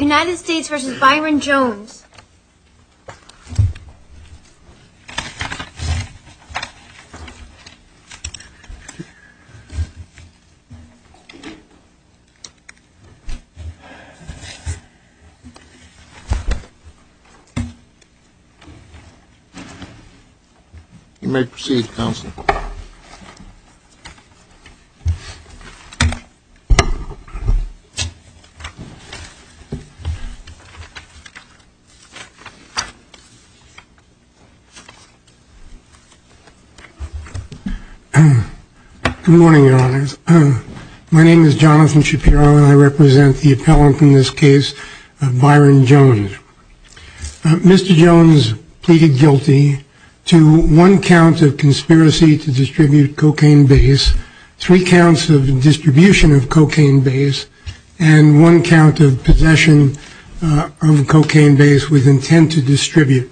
United States vs. Byron Jones. You may proceed, Counselor. Good morning, Your Honors. My name is Jonathan Shapiro, and I represent the appellant in this case of Byron Jones. Mr. Jones pleaded guilty to one count of conspiracy to distribute cocaine base, three counts of distribution of cocaine base, and one count of possession of cocaine base with intent to distribute.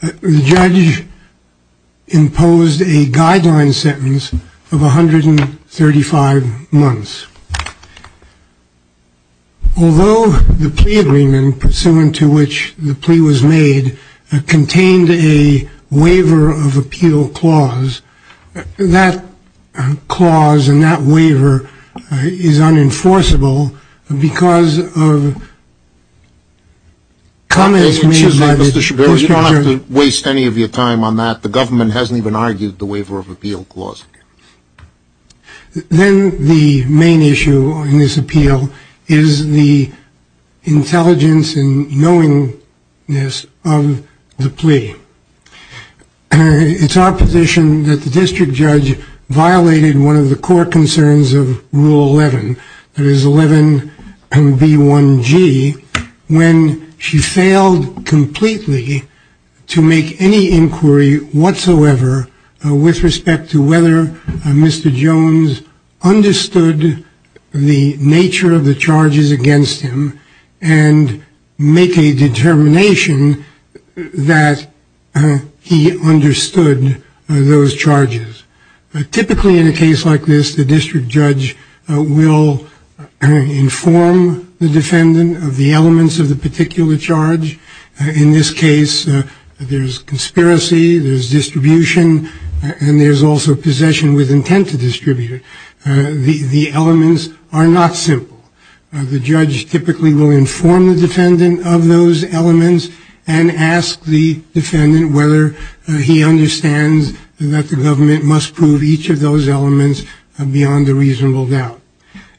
The judge imposed a guideline sentence of 135 months. Although the plea agreement pursuant to which the plea was made contained a waiver of appeal clause, that clause and that waiver is unenforceable because of comments made by the prosecutor. Excuse me, Mr. Shapiro, you don't have to waste any of your time on that. The government hasn't even argued the waiver of appeal clause. Then the main issue in this appeal is the intelligence and knowingness of the plea. It's our position that the district judge violated one of the core concerns of Rule 11, that is 11 and B1G, when she failed completely to make any inquiry whatsoever with respect to whether Mr. Jones understood the nature of the charges against him and make a determination that he understood those charges. Typically, in a case like this, the district judge will inform the defendant of the elements of the particular charge. In this case, there's conspiracy, there's distribution, and there's also possession with intent to distribute it. The elements are not simple. The judge typically will inform the defendant of those elements and ask the defendant whether he understands that the government must prove each of those elements beyond a reasonable doubt.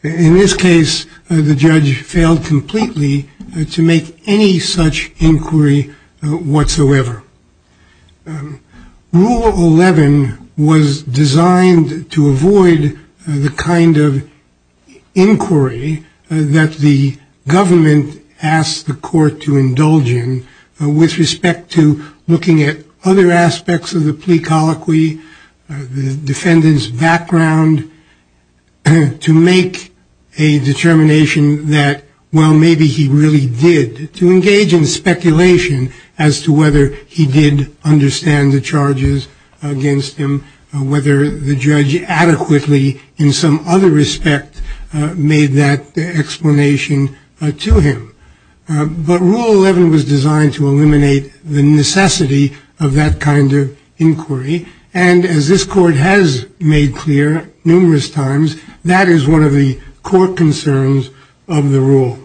In this case, the judge failed completely to make any such inquiry whatsoever. Rule 11 was designed to avoid the kind of inquiry that the government asked the court to indulge in with respect to looking at other aspects of the plea colloquy. The defendant's background to make a determination that, well, maybe he really did, to engage in speculation as to whether he did understand the charges against him, whether the judge adequately in some other respect made that explanation to him. But Rule 11 was designed to eliminate the necessity of that kind of inquiry. And as this court has made clear numerous times, that is one of the core concerns of the rule.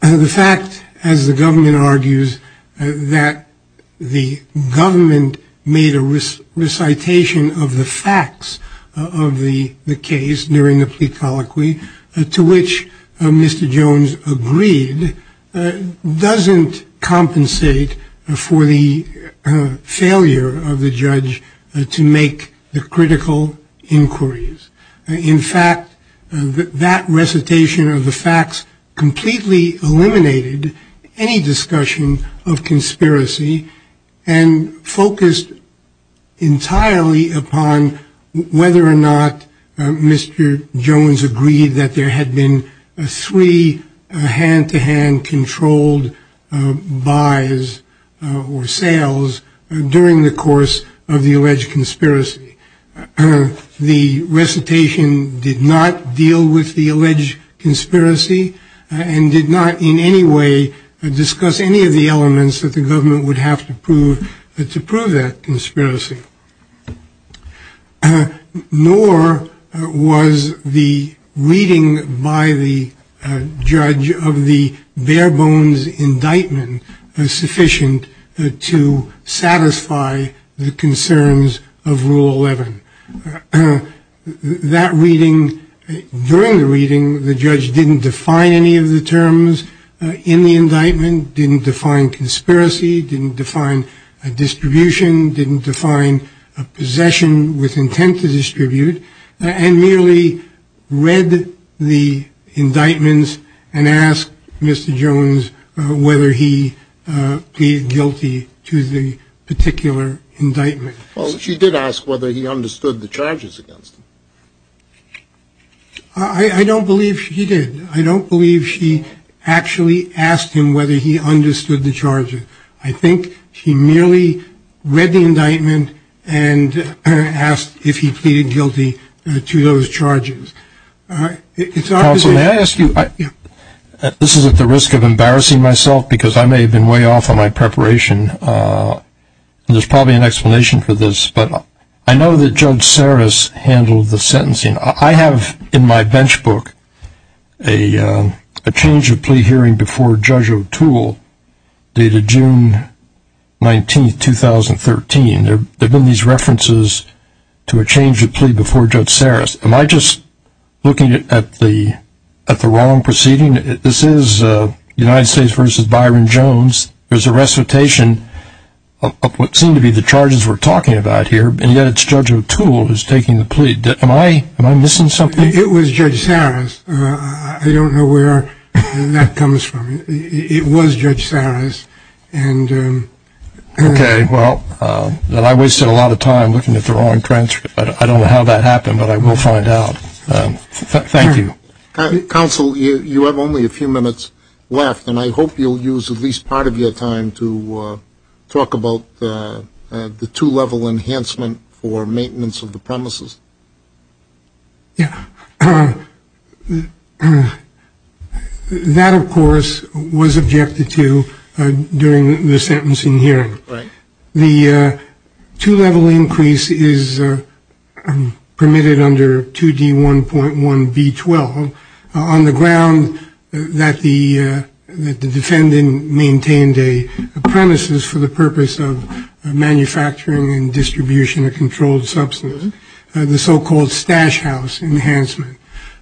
The fact, as the government argues, that the government made a recitation of the facts of the case during the plea colloquy, to which Mr. Jones agreed, doesn't compensate for the failure of the judge to make the critical inquiries. In fact, that recitation of the facts completely eliminated any discussion of conspiracy and focused entirely upon whether or not Mr. Jones agreed that there had been three hand-to-hand controlled buys or sales during the course of the alleged conspiracy. The recitation did not deal with the alleged conspiracy and did not in any way discuss any of the elements that the government would have to prove to prove that conspiracy. Nor was the reading by the judge of the bare bones indictment sufficient to satisfy the concerns of Rule 11. That reading, during the reading, the judge didn't define any of the terms in the indictment, didn't define conspiracy, didn't define a distribution, didn't define a possession with intent to distribute, and merely read the indictments and asked Mr. Jones whether he pleaded guilty to the particular indictment. Well, she did ask whether he understood the charges against him. I don't believe she did. I don't believe she actually asked him whether he understood the charges. I think she merely read the indictment and asked if he pleaded guilty to those charges. Counsel, may I ask you, this is at the risk of embarrassing myself because I may have been way off on my preparation. There's probably an explanation for this, but I know that Judge Sarris handled the sentencing. I have in my bench book a change of plea hearing before Judge O'Toole dated June 19, 2013. There have been these references to a change of plea before Judge Sarris. Am I just looking at the wrong proceeding? This is United States v. Byron Jones. There's a recitation of what seemed to be the charges we're talking about here, and yet it's Judge O'Toole who's taking the plea. Am I missing something? It was Judge Sarris. I don't know where that comes from. It was Judge Sarris. Okay, well, then I wasted a lot of time looking at the wrong transcript. I don't know how that happened, but I will find out. Thank you. Counsel, you have only a few minutes left, and I hope you'll use at least part of your time to talk about the two-level enhancement for maintenance of the premises. Yeah. That, of course, was objected to during the sentencing hearing. Right. The two-level increase is permitted under 2D1.1B12 on the ground that the defendant maintained a premises for the purpose of manufacturing and distribution of controlled substance, the so-called stash house enhancement.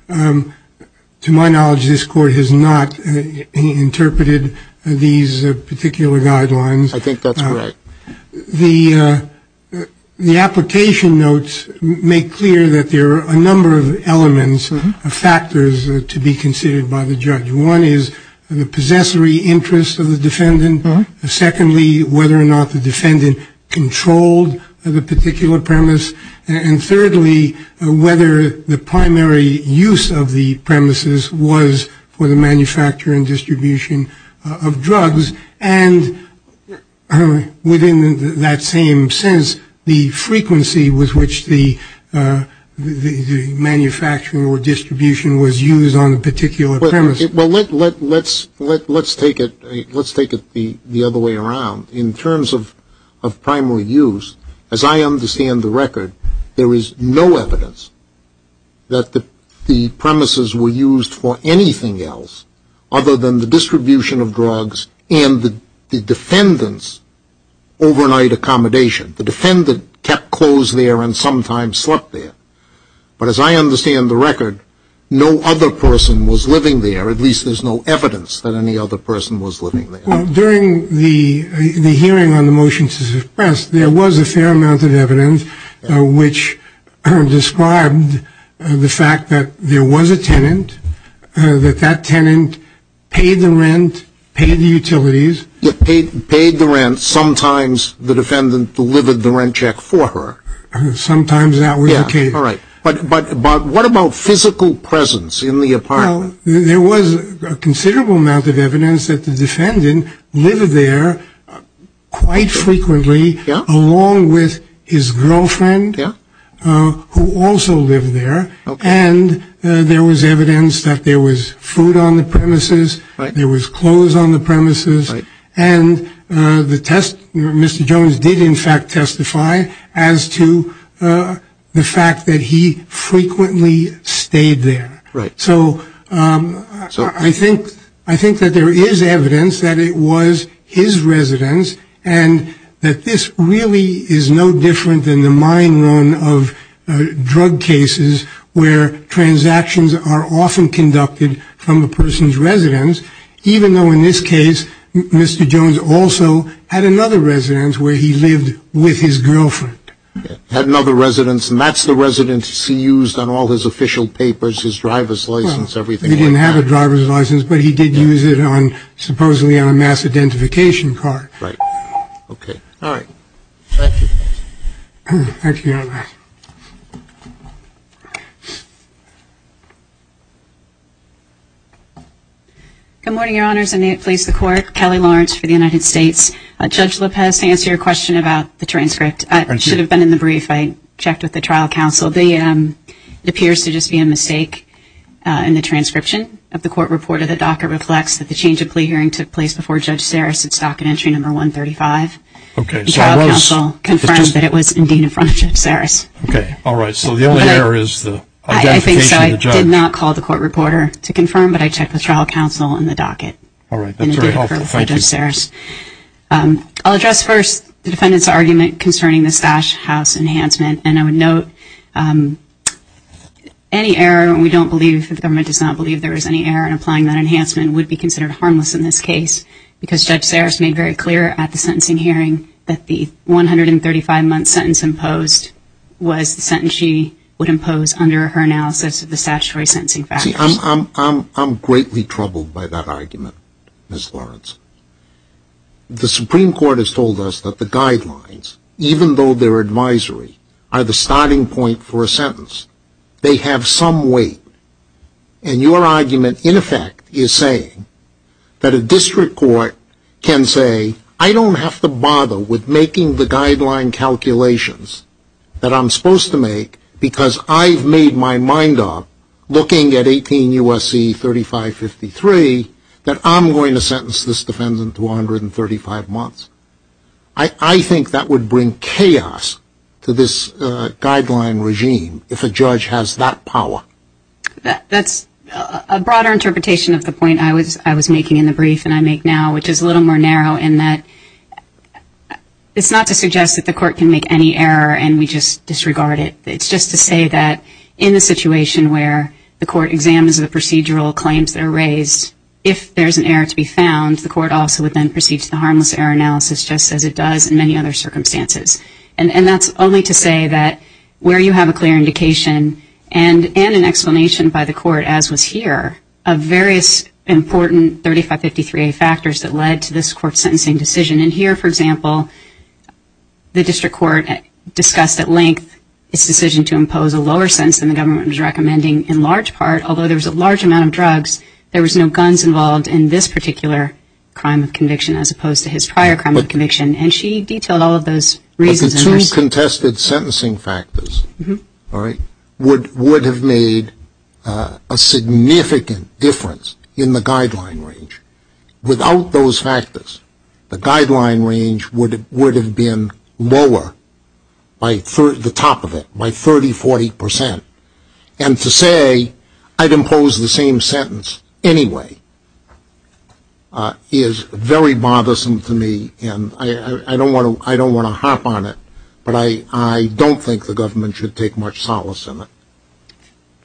To my knowledge, this Court has not interpreted these particular guidelines. I think that's correct. The application notes make clear that there are a number of elements, factors, to be considered by the judge. One is the possessory interest of the defendant. Secondly, whether or not the defendant controlled the particular premise. And thirdly, whether the primary use of the premises was for the manufacture and distribution of drugs. And within that same sense, the frequency with which the manufacturing or distribution was used on a particular premise. Well, let's take it the other way around. In terms of primary use, as I understand the record, there is no evidence that the premises were used for anything else other than the distribution of drugs and the defendant's overnight accommodation. The defendant kept close there and sometimes slept there. But as I understand the record, no other person was living there. At least there's no evidence that any other person was living there. During the hearing on the motion to suppress, there was a fair amount of evidence which described the fact that there was a tenant, that that tenant paid the rent, paid the utilities. Paid the rent. Sometimes the defendant delivered the rent check for her. Sometimes that was the case. All right. But what about physical presence in the apartment? Well, there was a considerable amount of evidence that the defendant lived there quite frequently, along with his girlfriend, who also lived there. And there was evidence that there was food on the premises. There was clothes on the premises. And Mr. Jones did, in fact, testify as to the fact that he frequently stayed there. Right. So I think that there is evidence that it was his residence and that this really is no different than the mine run of drug cases where transactions are often conducted from the person's residence, even though in this case Mr. Jones also had another residence where he lived with his girlfriend. Had another residence. And that's the residence he used on all his official papers, his driver's license, everything like that. He didn't have a driver's license, but he did use it on supposedly on a mass identification card. Right. Okay. All right. Thank you. Thank you, Your Honor. Good morning, Your Honors. And may it please the Court. Kelly Lawrence for the United States. Judge Lopez, to answer your question about the transcript. I should have been in the brief. I checked with the trial counsel. It appears to just be a mistake in the transcription of the court report. The docket reflects that the change of plea hearing took place before Judge Saras at Socket Entry Number 135. Okay. The trial counsel confirmed that it was indeed in front of Judge Saras. Okay. All right. So the only error is the identification of the judge. I think so. I did not call the court reporter to confirm, but I checked with trial counsel in the docket. All right. That's very helpful. Thank you. I'll address first the defendant's argument concerning the stash house enhancement, and I would note any error, and we don't believe, the government does not believe there is any error in applying that enhancement, would be considered harmless in this case, because Judge Saras made very clear at the sentencing hearing that the 135-month sentence imposed was the sentence she would impose under her analysis of the statutory sentencing factors. See, I'm greatly troubled by that argument, Ms. Lawrence. The Supreme Court has told us that the guidelines, even though they're advisory, are the starting point for a sentence. They have some weight. And your argument, in effect, is saying that a district court can say, I don't have to bother with making the guideline calculations that I'm supposed to make because I've made my mind up looking at 18 U.S.C. 3553 that I'm going to sentence this defendant to 135 months. I think that would bring chaos to this guideline regime if a judge has that power. That's a broader interpretation of the point I was making in the brief and I make now, which is a little more narrow in that it's not to suggest that the court is wrong. It's just to say that in the situation where the court examines the procedural claims that are raised, if there's an error to be found, the court also would then proceed to the harmless error analysis just as it does in many other circumstances. And that's only to say that where you have a clear indication and an explanation by the court, as was here, of various important 3553A factors that led to this court sentencing decision. And here, for example, the district court discussed at length its decision to impose a lower sentence than the government was recommending in large part, although there was a large amount of drugs, there was no guns involved in this particular crime of conviction as opposed to his prior crime of conviction. And she detailed all of those reasons. But the two contested sentencing factors would have made a significant difference in the guideline range. Without those factors, the guideline range would have been lower, the top of it, by 30, 40%. And to say, I'd impose the same sentence anyway, is very bothersome to me. And I don't want to harp on it, but I don't think the government should take much solace in it.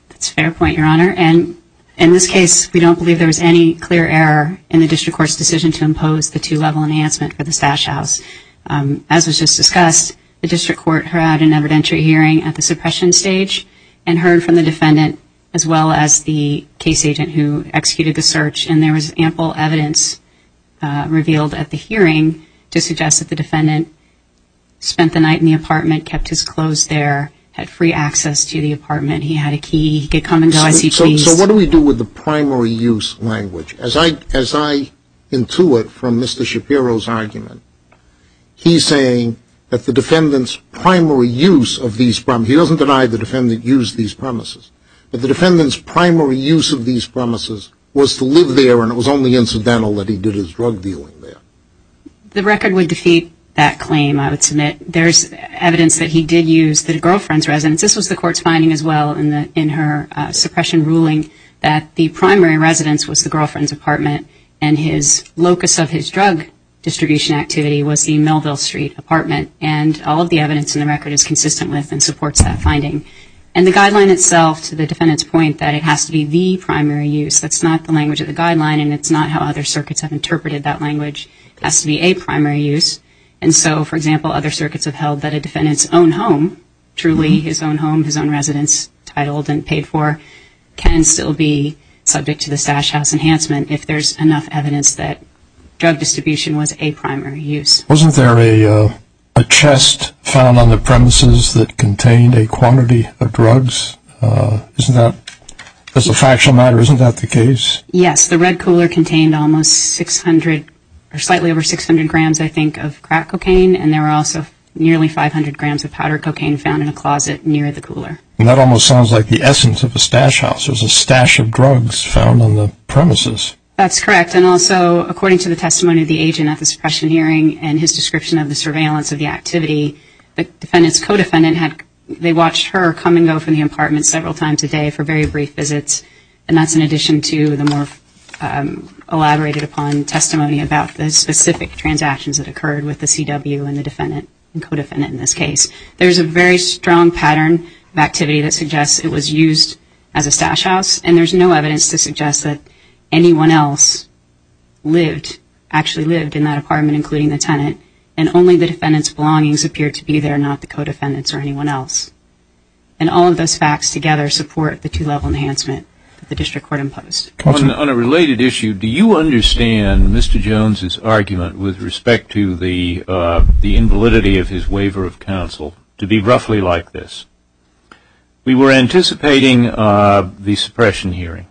That's a fair point, Your Honor. And in this case, we don't believe there was any clear error in the district court's decision to impose the two-level enhancement for the stash house. As was just discussed, the district court had an evidentiary hearing at the suppression stage and heard from the defendant as well as the case agent who executed the search. And there was ample evidence revealed at the hearing to suggest that the defendant spent the night in the apartment, kept his clothes there, had free access to the apartment, he had a key, he could come and dial ICPs. So what do we do with the primary use language? As I intuit from Mr. Shapiro's argument, he's saying that the defendant's primary use of these promises, he doesn't deny the defendant used these promises, but the defendant's primary use of these promises was to live there and it was only incidental that he did his drug dealing there. The record would defeat that claim, I would submit. There's evidence that he did use the girlfriend's residence. This was the court's finding as well in her suppression ruling that the primary residence was the girlfriend's apartment and his locus of his drug distribution activity was the Melville Street apartment. And all of the evidence in the record is consistent with and supports that finding. And the guideline itself to the defendant's point that it has to be the primary use. That's not the language of the guideline and it's not how other circuits have interpreted that language. It has to be a primary use. And so, for example, other circuits have held that a defendant's own home, truly his own home, his own residence titled and paid for, can still be subject to the Stash House enhancement if there's enough evidence that drug distribution was a primary use. Wasn't there a chest found on the premises that contained a quantity of drugs? As a factual matter, isn't that the case? Yes. The red cooler contained almost 600 or slightly over 600 grams, I think, of crack cocaine. And there were also nearly 500 grams of powder cocaine found in a closet near the cooler. And that almost sounds like the essence of a Stash House. There's a stash of drugs found on the premises. That's correct. And also, according to the testimony of the agent at the suppression hearing and his description of the surveillance of the activity, the defendant's co-defendant had, they watched her come and go from the apartment several times a day for very brief visits. And that's in addition to the more elaborated upon testimony about the specific transactions that occurred with the CW and the defendant, the co-defendant in this case. There's a very strong pattern of activity that suggests it was used as a Stash House. And there's no evidence to suggest that anyone else lived, actually lived in that apartment, including the tenant, and only the defendant's belongings appeared to be there, not the co-defendant's or anyone else. And all of those facts together support the two-level enhancement that the District Court imposed. On a related issue, do you understand Mr. Jones' argument with respect to the invalidity of his waiver of counsel to be roughly like this? We were anticipating the suppression hearing.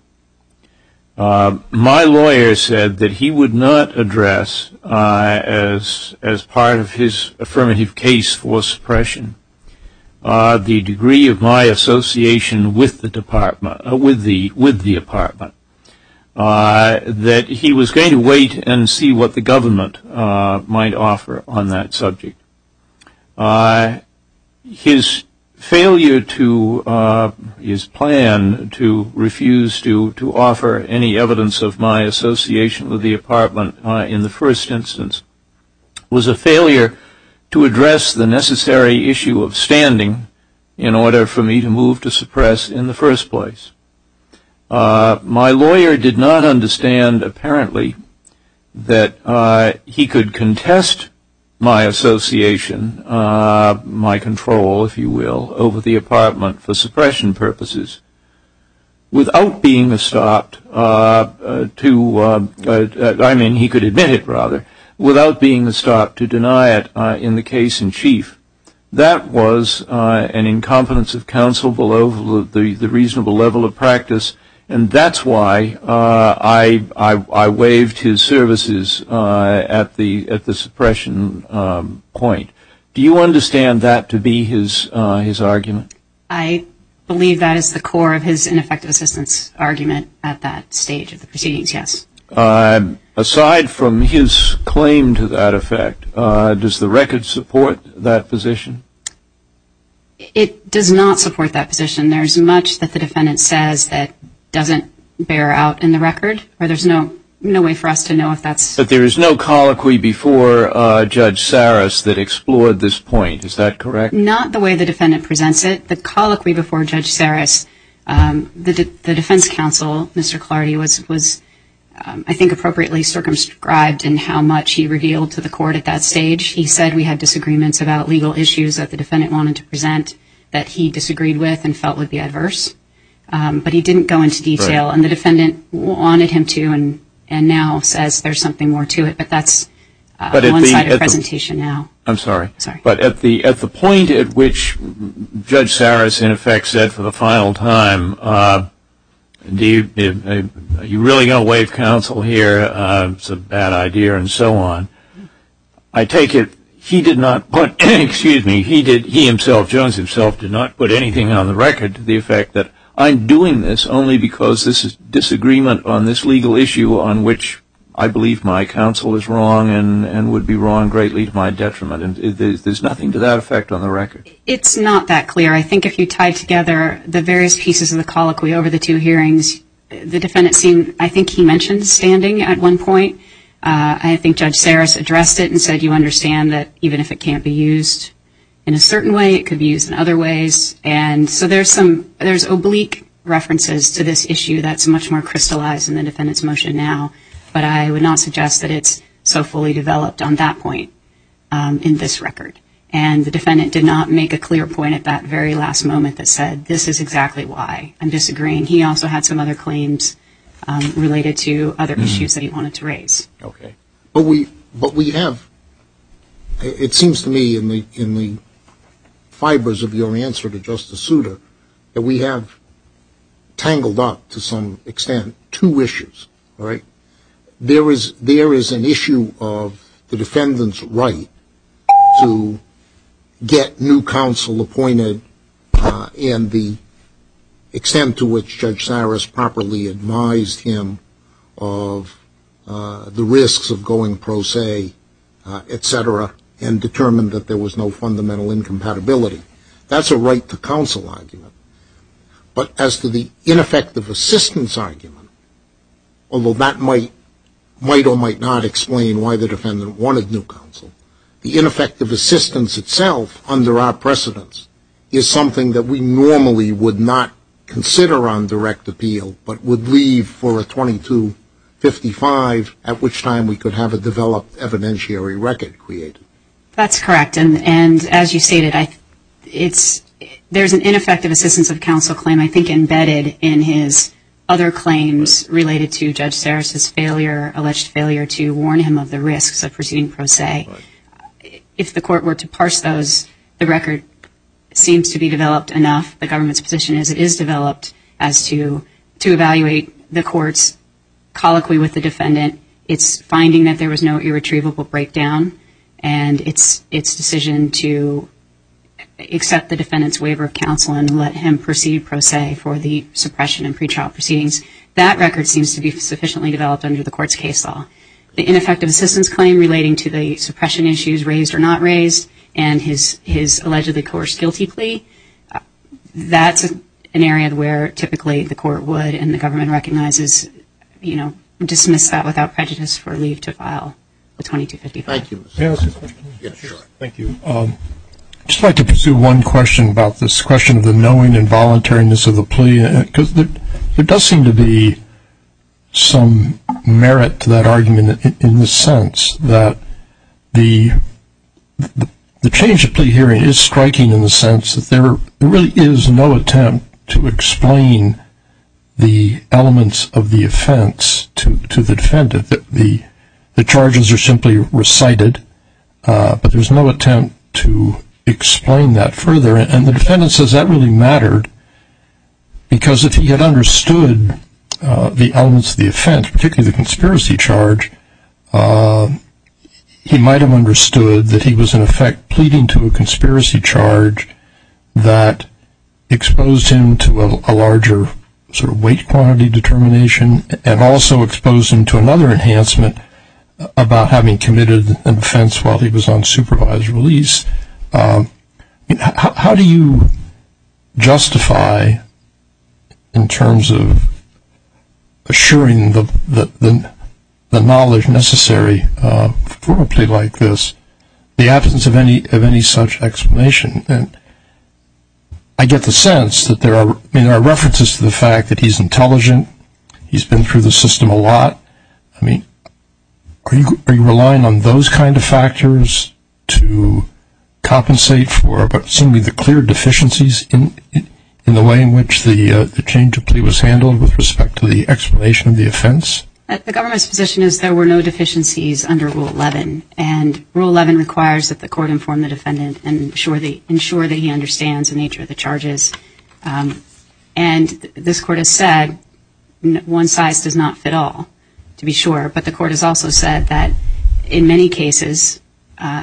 My lawyer said that he would not address, as part of his affirmative case for suppression, the degree of my association with the apartment, that he was going to wait and see what the government might offer on that subject. His failure to, his plan to refuse to offer any evidence of my association with the apartment in the first instance was a failure to address the necessary issue of standing in order for me to move to suppress in the first place. My lawyer did not understand, apparently, that he could contest my association, my control, if you will, over the apartment for suppression purposes without being stopped to, I mean, he could admit it, rather, without being stopped to deny it in the case in chief. That was an incompetence of counsel below the reasonable level of practice, and that's why I waived his services at the suppression point. Do you understand that to be his argument? I believe that is the core of his ineffective assistance argument at that stage of the proceedings, yes. Aside from his claim to that effect, does the record support that position? It does not support that position. There's much that the defendant says that doesn't bear out in the record, or there's no way for us to know if that's. But there is no colloquy before Judge Saris that explored this point, is that correct? Not the way the defendant presents it. The colloquy before Judge Saris, the defense counsel, Mr. Clardy, was I think appropriately circumscribed in how much he revealed to the court at that stage. He said we had disagreements about legal issues that the defendant wanted to present that he disagreed with and felt would be adverse. But he didn't go into detail, and the defendant wanted him to and now says there's something more to it. But that's one side of the presentation now. I'm sorry. But at the point at which Judge Saris in effect said for the final time, you're really going to waive counsel here, it's a bad idea, and so on, I take it he did not put, excuse me, he himself, Jones himself did not put anything on the record to the effect that I'm doing this only because this is disagreement on this legal issue on which I believe my counsel is wrong and would be wrong greatly to my detriment. There's nothing to that effect on the record. It's not that clear. I think if you tie together the various pieces of the colloquy over the two hearings, the defendant seemed, I think he mentioned standing at one point. I think Judge Saris addressed it and said you understand that even if it can't be used in a certain way, it could be used in other ways. And so there's oblique references to this issue that's much more crystallized in the defendant's motion now. But I would not suggest that it's so fully developed on that point in this record. And the defendant did not make a clear point at that very last moment that said this is exactly why I'm disagreeing. He also had some other claims related to other issues that he wanted to raise. Okay. But we have, it seems to me in the fibers of your answer to Justice Souter, that we have tangled up to some extent two issues. All right. There is an issue of the defendant's right to get new counsel appointed and the extent to which Judge Saris properly advised him of the risks of going pro se, et cetera, and determined that there was no fundamental incompatibility. That's a right to counsel argument. But as to the ineffective assistance argument, although that might or might not explain why the defendant wanted new counsel, the ineffective assistance itself under our precedence is something that we normally would not consider on direct appeal but would leave for a 2255, at which time we could have a developed evidentiary record created. That's correct. And as you stated, there's an ineffective assistance of counsel claim I think embedded in his other claims related to Judge Saris' alleged failure to warn him of the risks of proceeding pro se. If the court were to parse those, the record seems to be developed enough. The government's position is it is developed as to evaluate the courts colloquially with the defendant. It's finding that there was no irretrievable breakdown and it's decision to accept the defendant's waiver of counsel and let him proceed pro se for the suppression and pretrial proceedings. That record seems to be sufficiently developed under the court's case law. The ineffective assistance claim relating to the suppression issues raised or not raised and his allegedly coerced guilty plea, that's an area where typically the court would and the government recognizes, you know, dismiss that without prejudice for leave to file a 2255. Thank you. May I ask a question? Yes, sure. Thank you. I'd just like to pursue one question about this question of the knowing and voluntariness of the plea because there does seem to be some merit to that argument in the sense that the change of plea hearing is striking in the sense that there really is no attempt to explain the elements of the offense to the defendant. The charges are simply recited, but there's no attempt to explain that further. And the defendant says that really mattered because if he had understood the elements of the offense, particularly the conspiracy charge, he might have understood that he was, in effect, pleading to a conspiracy charge that exposed him to a larger sort of weight quantity determination and also exposed him to another enhancement about having committed an offense while he was on supervised release. How do you justify, in terms of assuring the knowledge necessary for a plea like this, the absence of any such explanation? And I get the sense that there are references to the fact that he's intelligent, he's been through the system a lot. I mean, are you relying on those kind of factors to compensate for some of the clear deficiencies in the way in which the change of plea was handled with respect to the explanation of the offense? The government's position is there were no deficiencies under Rule 11, and Rule 11 requires that the court inform the defendant and ensure that he understands the nature of the charges. And this court has said one size does not fit all, to be sure. But the court has also said that in many cases,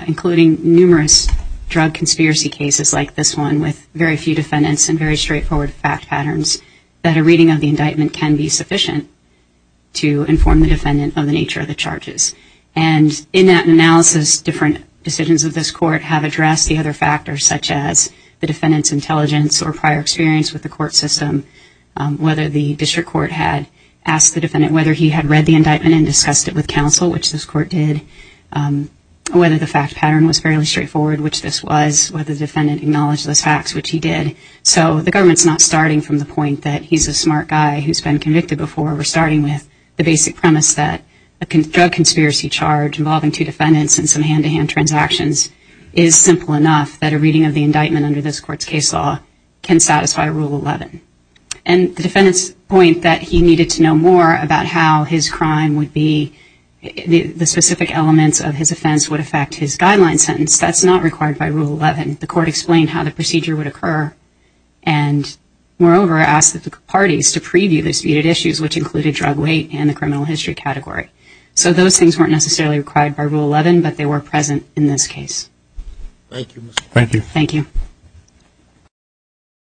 including numerous drug conspiracy cases like this one with very few defendants and very straightforward fact patterns, that a reading of the indictment can be sufficient to inform the defendant of the nature of the charges. And in that analysis, different decisions of this court have addressed the other factors, such as the defendant's intelligence or prior experience with the court system, whether the district court had asked the defendant whether he had read the indictment and discussed it with counsel, which this court did, whether the fact pattern was fairly straightforward, which this was, whether the defendant acknowledged those facts, which he did. So the government's not starting from the point that he's a smart guy who's been convicted before. We're starting with the basic premise that a drug conspiracy charge involving two defendants and some hand-to-hand transactions is simple enough that a reading of the indictment under this court's case law can satisfy Rule 11. And the defendants point that he needed to know more about how his crime would be, the specific elements of his offense would affect his guideline sentence. That's not required by Rule 11. The court explained how the procedure would occur and, moreover, asked the parties to preview the disputed issues, which included drug weight and the criminal history category. So those things weren't necessarily required by Rule 11, but they were present in this case. Thank you. Thank you.